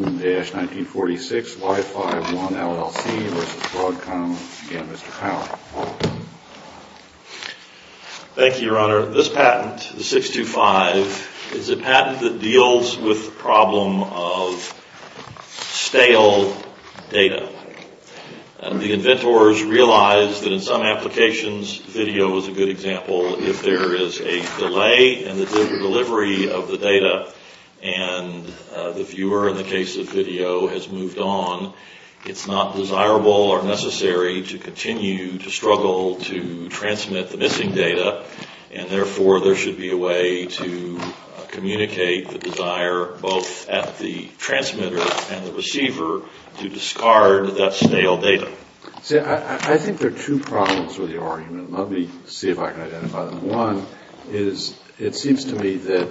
Thank you, Your Honor. This patent, 625, is a patent that deals with the problem of stale data. The inventors realized that in some applications, video is a good example, if there is a delay in the delivery of the data and the viewer, in the case of video, has moved on, it's not desirable or necessary to continue to struggle to transmit the missing data and therefore there should be a way to communicate the desire both at the transmitter and the receiver to discard that stale data. I think there are two problems with the argument. Let me see if I can identify them. One is it seems to me that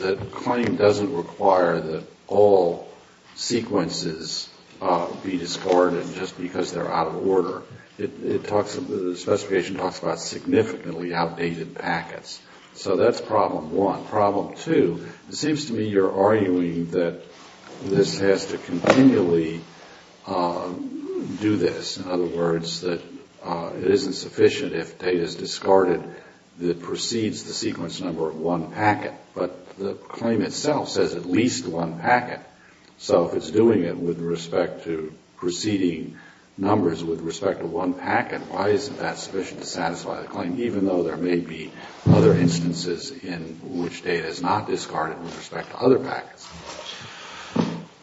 the claim doesn't require that all sequences be discarded just because they're out of order. The specification talks about significantly outdated packets. So that's problem one. Problem two, it seems to me you're arguing that this has to continually do this. In other words, that it isn't sufficient if data is discarded that precedes the sequence number of one packet. But the claim itself says at least one packet. So if it's doing it with respect to preceding numbers with respect to one packet, why isn't that sufficient to discard it with respect to other packets?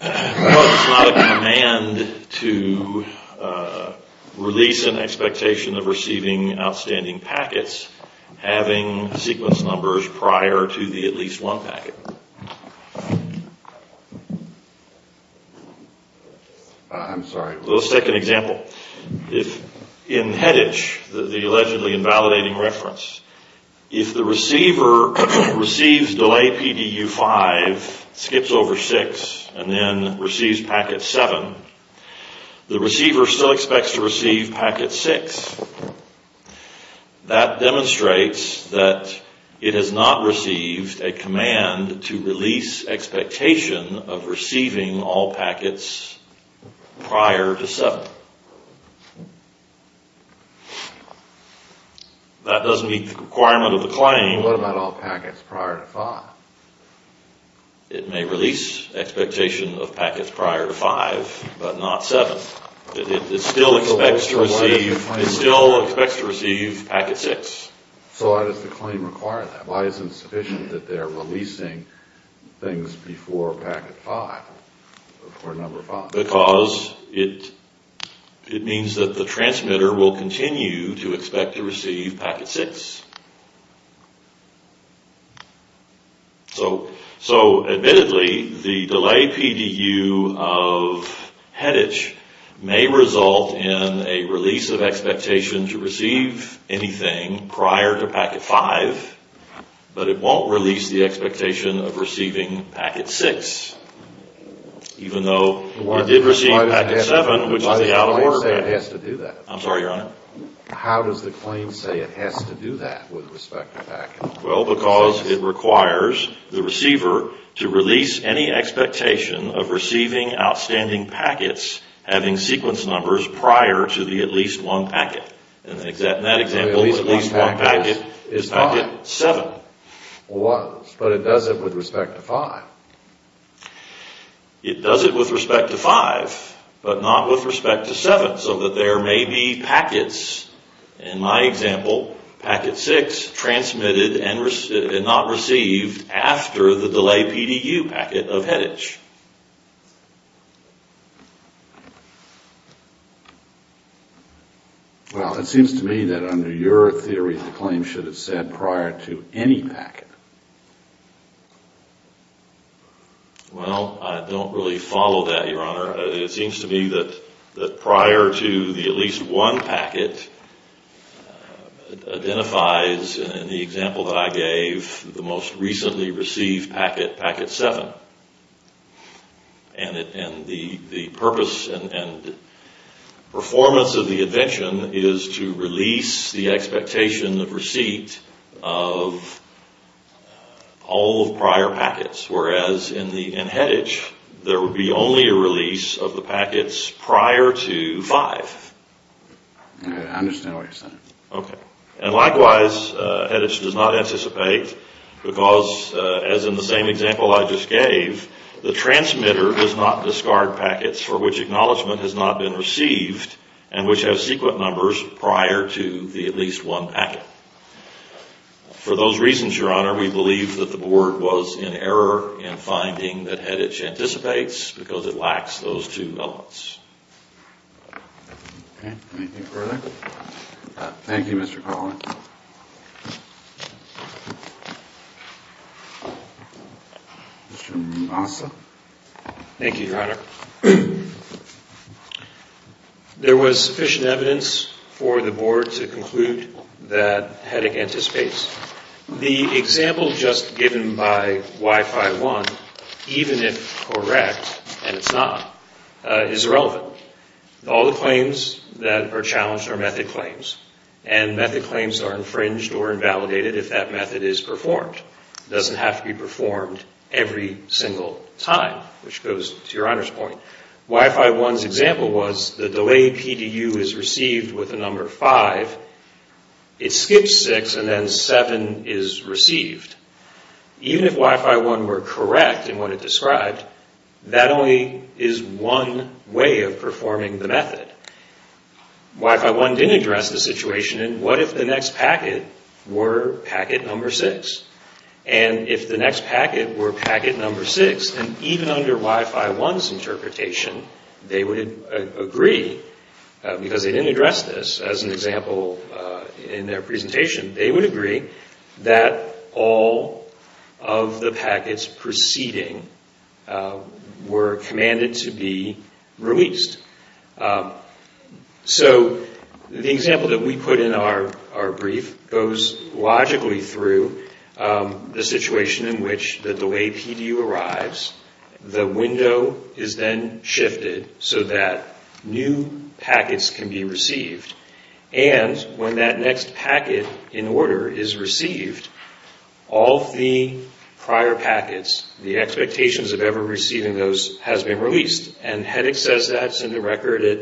Well, it's not a command to release an expectation of receiving outstanding packets having sequence numbers prior to the at least one packet. I'm sorry. Let's take an example. In HEDICH, the allegedly invalidating reference, if the receiver receives delay PDU5, skips over 6, and then receives packet 7, the receiver still expects to receive packet 6. That demonstrates that it has not received a command to release expectation of receiving all packets prior to 7. That doesn't meet the requirement of the claim. What about all packets prior to 5? It may release expectation of packets prior to 5, but not 7. It still expects to receive packet 6. So why does the claim require that? Why isn't it sufficient that they're releasing things before packet 5, before number 5? Because it means that the transmitter will continue to expect to receive packet 6. So admittedly, the delay PDU of HEDICH may result in a release of expectation to receive anything prior to packet 5, but it won't release the expectation of receiving packet 6. Even though it did receive packet 7, which is the out-of-order packet. Why does the claim say it has to do that? I'm sorry, Your Honor? How does the claim say it has to do that with respect to packets? Well, because it requires the receiver to release any expectation of receiving outstanding packets having sequence numbers prior to the at-least-one packet. In that example, the at-least-one packet is packet 7. But it does it with respect to 5. It does it with respect to 5, but not with respect to 7. So that there may be packets, in my example, packet 6, transmitted and not received after the delay PDU packet of HEDICH. Well, it seems to me that under your theory, the claim should have said prior to any packet. Well, I don't really follow that, Your Honor. It seems to me that prior to the at-least-one packet identifies, in the example that I gave, the most recently received packet, packet 7. And the purpose and performance of the invention is to release the expectation of receipt of all prior packets. Whereas in HEDICH, there would be only a release of the packets prior to 5. I understand what you're saying. Okay. And likewise, HEDICH does not anticipate because, as in the same example I just gave, the transmitter does not discard packets for which acknowledgement has not been received and which have sequence numbers prior to the at-least-one packet. For those reasons, Your Honor, we believe that the Board was in error in finding that HEDICH anticipates because it lacks those two elements. Okay. Anything further? Thank you, Mr. Cawley. Mr. Massa? Thank you, Your Honor. There was sufficient evidence for the Board to conclude that HEDICH anticipates. The example just given by Y-5-1, even if correct, and it's not, is irrelevant. All the claims that are challenged are method claims. And method claims are infringed or invalidated if that method is performed. It doesn't have to be performed every single time, which goes to Your Honor's point. Y-5-1's example was the delay PDU is received with a number 5. It skips 6 and then 7 is received. Even if Y-5-1 were correct in what it described, that only is one way of performing the method. Y-5-1 didn't address the situation in what if the next packet were packet number 6? And if the next packet were packet number 6, then even under Y-5-1's interpretation, they would agree, because they didn't address this as an example in their presentation, they would agree that all of the packets preceding were commanded to be released. So the example that we put in our brief goes logically through the situation in which the delay PDU arrives, the window is then shifted so that new packets can be received. And when that next packet in order is received, all of the prior packets, the expectations of ever receiving those has been released. And HEDIC says that's in the record at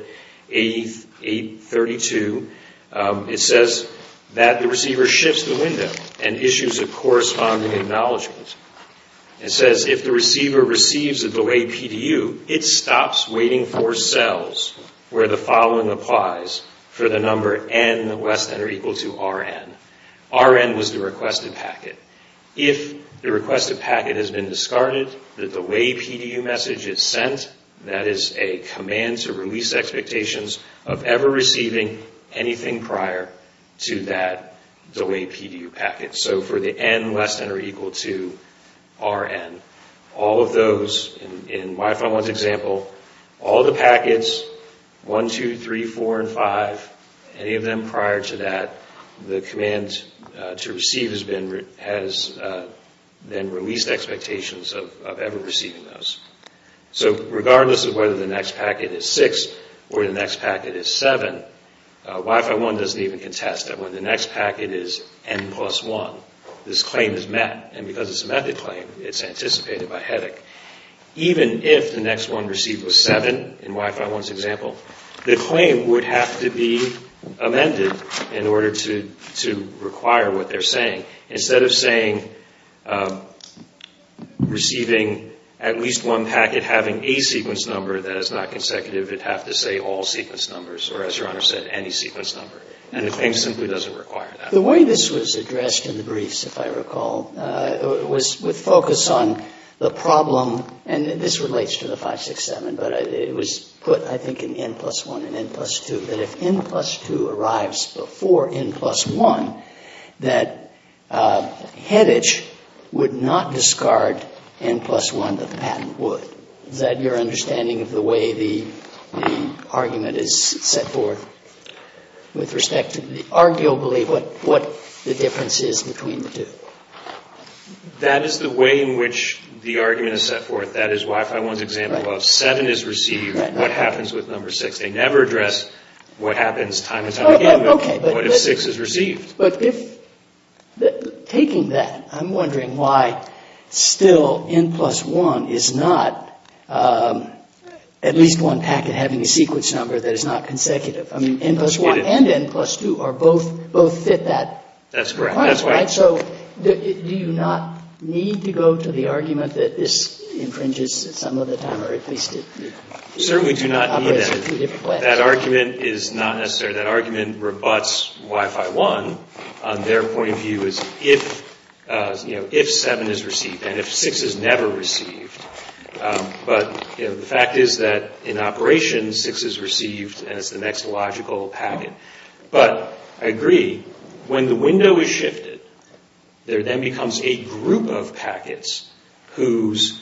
832. It says that the receiver shifts the window and issues a corresponding acknowledgment. It says if the receiver receives a delay PDU, it stops waiting for cells where the following applies for the number N less than or equal to RN. RN was the requested packet. If the requested packet has been discarded, the delay PDU message is sent, that is a command to release expectations of ever receiving anything prior to that delay PDU packet. So for the N less than or equal to RN, all of those in Wi-Fi 1's example, all the packets, 1, 2, 3, 4, and 5, any of them prior to that, the command to receive has been released expectations of ever receiving those. So regardless of whether the next packet is 6 or the next packet is 7, Wi-Fi 1 doesn't even contest that when the next packet is N plus 1, this claim is met. And because it's a method claim, it's anticipated by HEDIC. Even if the next one received was 7, in Wi-Fi 1's example, the claim would have to be amended in order to require what they're saying. Instead of saying receiving at least one packet having a sequence number that is not consecutive, it would have to say all sequence numbers or, as Your Honor said, any sequence number. And the claim simply doesn't require that. The way this was addressed in the briefs, if I recall, was with focus on the problem and this relates to the 567, but it was put, I think, in N plus 1 and N plus 2, that if N plus 2 arrives before N plus 1, that HEDIC would not discard N plus 1, the patent would. Is that your understanding of the way the argument is set forth with respect to arguably what the difference is between the two? That is the way in which the argument is set forth. That is Wi-Fi 1's example of 7 is received. What happens with number 6? They never address what happens time and time again, but what if 6 is received? But taking that, I'm wondering why still N plus 1 is not at least one packet having a sequence number that is not consecutive. I mean, N plus 1 and N plus 2 both fit that. That's correct. So do you not need to go to the argument that this infringes some of the time or at least it operates in two different places? We certainly do not need that. That argument is not necessary. That argument rebuts Wi-Fi 1. Their point of view is if 7 is received and if 6 is never received. But the fact is that in operation, 6 is received and it's the next logical packet. But I agree, when the window is shifted, there then becomes a group of packets whose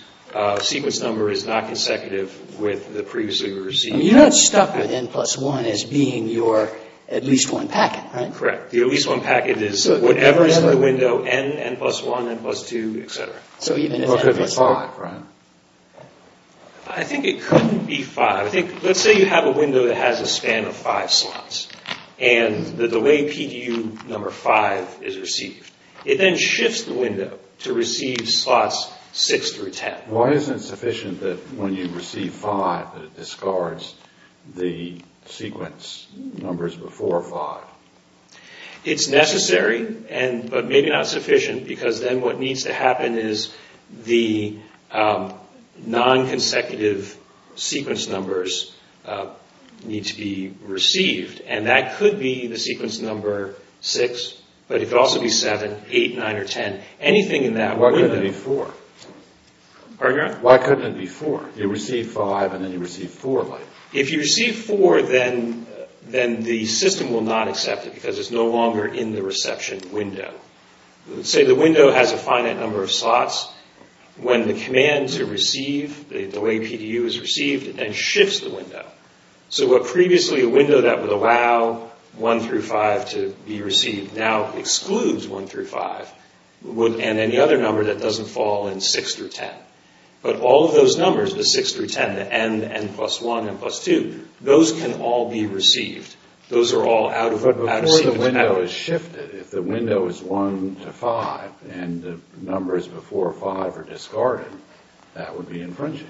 sequence number is not consecutive with the previously received packet. You're not stuck with N plus 1 as being your at least one packet, right? Correct. The at least one packet is whatever is in the window, N, N plus 1, N plus 2, etc. So even if it's 5, right? I think it couldn't be 5. Let's say you have a window that has a span of 5 slots and the delay PDU number 5 is received. It then shifts the window to receive slots 6 through 10. Why isn't it sufficient that when you receive 5 that it discards the sequence numbers before 5? It's necessary, but maybe not sufficient because then what needs to happen is the non-consecutive sequence numbers need to be received. And that could be the sequence number 6, but it could also be 7, 8, 9, or 10. Anything in that window. Why couldn't it be 4? Pardon me? Why couldn't it be 4? You receive 5 and then you receive 4 later. If you receive 4, then the system will not accept it because it's no longer in the reception window. Let's say the window has a finite number of slots. When the commands are received, the delay PDU is received, it then shifts the window. Previously, a window that would allow 1 through 5 to be received now excludes 1 through 5 and any other number that doesn't fall in 6 through 10. But all of those numbers, the 6 through 10, the N, the N plus 1, the N plus 2, those can all be received. Those are all out of receivables. But before the window is shifted, if the window is 1 to 5 and the numbers before 5 are discarded, that would be infringing.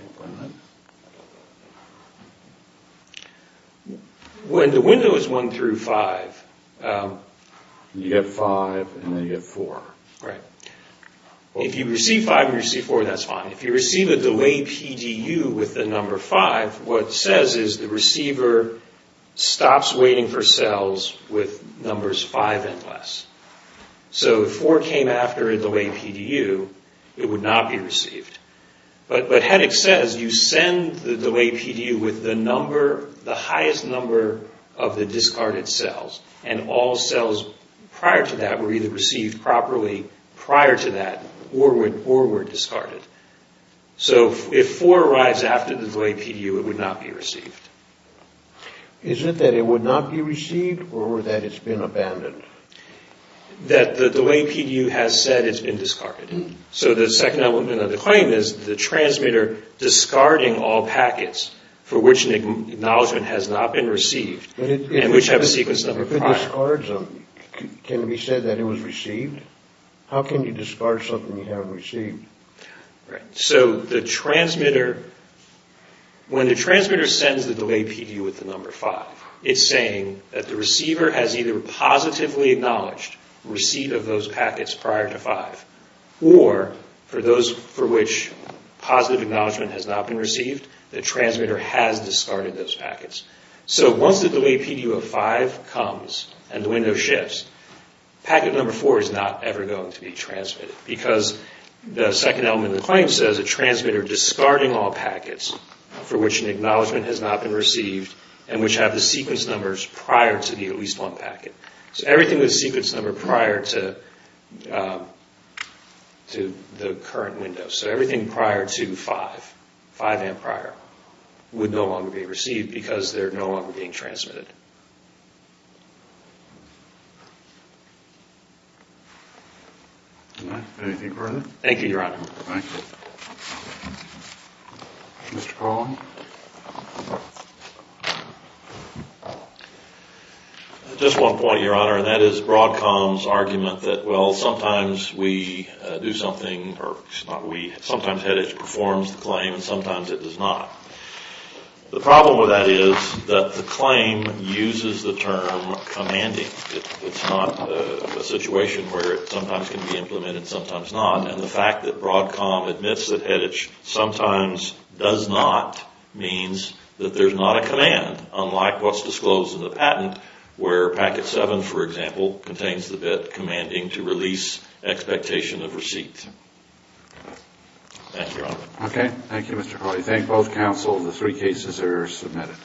When the window is 1 through 5, you get 5 and then you get 4. Right. If you receive 5 and you receive 4, that's fine. If you receive a delay PDU with the number 5, what it says is the receiver stops waiting for cells with numbers 5 and less. So if 4 came after a delay PDU, it would not be received. But HEDIC says you send the delay PDU with the highest number of the discarded cells and all cells prior to that were either received properly prior to that or were discarded. So if 4 arrives after the delay PDU, it would not be received. Is it that it would not be received or that it's been abandoned? That the delay PDU has said it's been discarded. So the second element of the claim is the transmitter discarding all packets for which an acknowledgement has not been received and which have a sequence number prior. If it discards them, can it be said that it was received? How can you discard something you haven't received? Right. So the transmitter, when the transmitter sends the delay PDU with the number 5, it's saying that the receiver has either positively acknowledged receipt of those packets prior to 5 or for those for which positive acknowledgement has not been received, the transmitter has discarded those packets. So once the delay PDU of 5 comes and the window shifts, packet number 4 is not ever going to be transmitted because the second element of the claim says a transmitter discarding all packets for which an acknowledgement has not been received and which have the sequence numbers prior to the at least one packet. So everything with a sequence number prior to the current window. So everything prior to 5, 5 amp prior, would no longer be received because they're no longer being transmitted. Anything further? Thank you, Your Honor. Thank you. Mr. Braun? Just one point, Your Honor, and that is Broadcom's argument that, well, sometimes we do something or sometimes HEDICH performs the claim and sometimes it does not. The problem with that is that the claim uses the term commanding. It's not a situation where it sometimes can be implemented, sometimes not. And the fact that Broadcom admits that HEDICH sometimes does not means that there's not a command, unlike what's disclosed in the patent where packet 7, for example, contains the bit commanding to release expectation of receipt. Thank you, Your Honor. Okay. Thank you, Mr. Cawley. Thank both counsels. The three cases are submitted.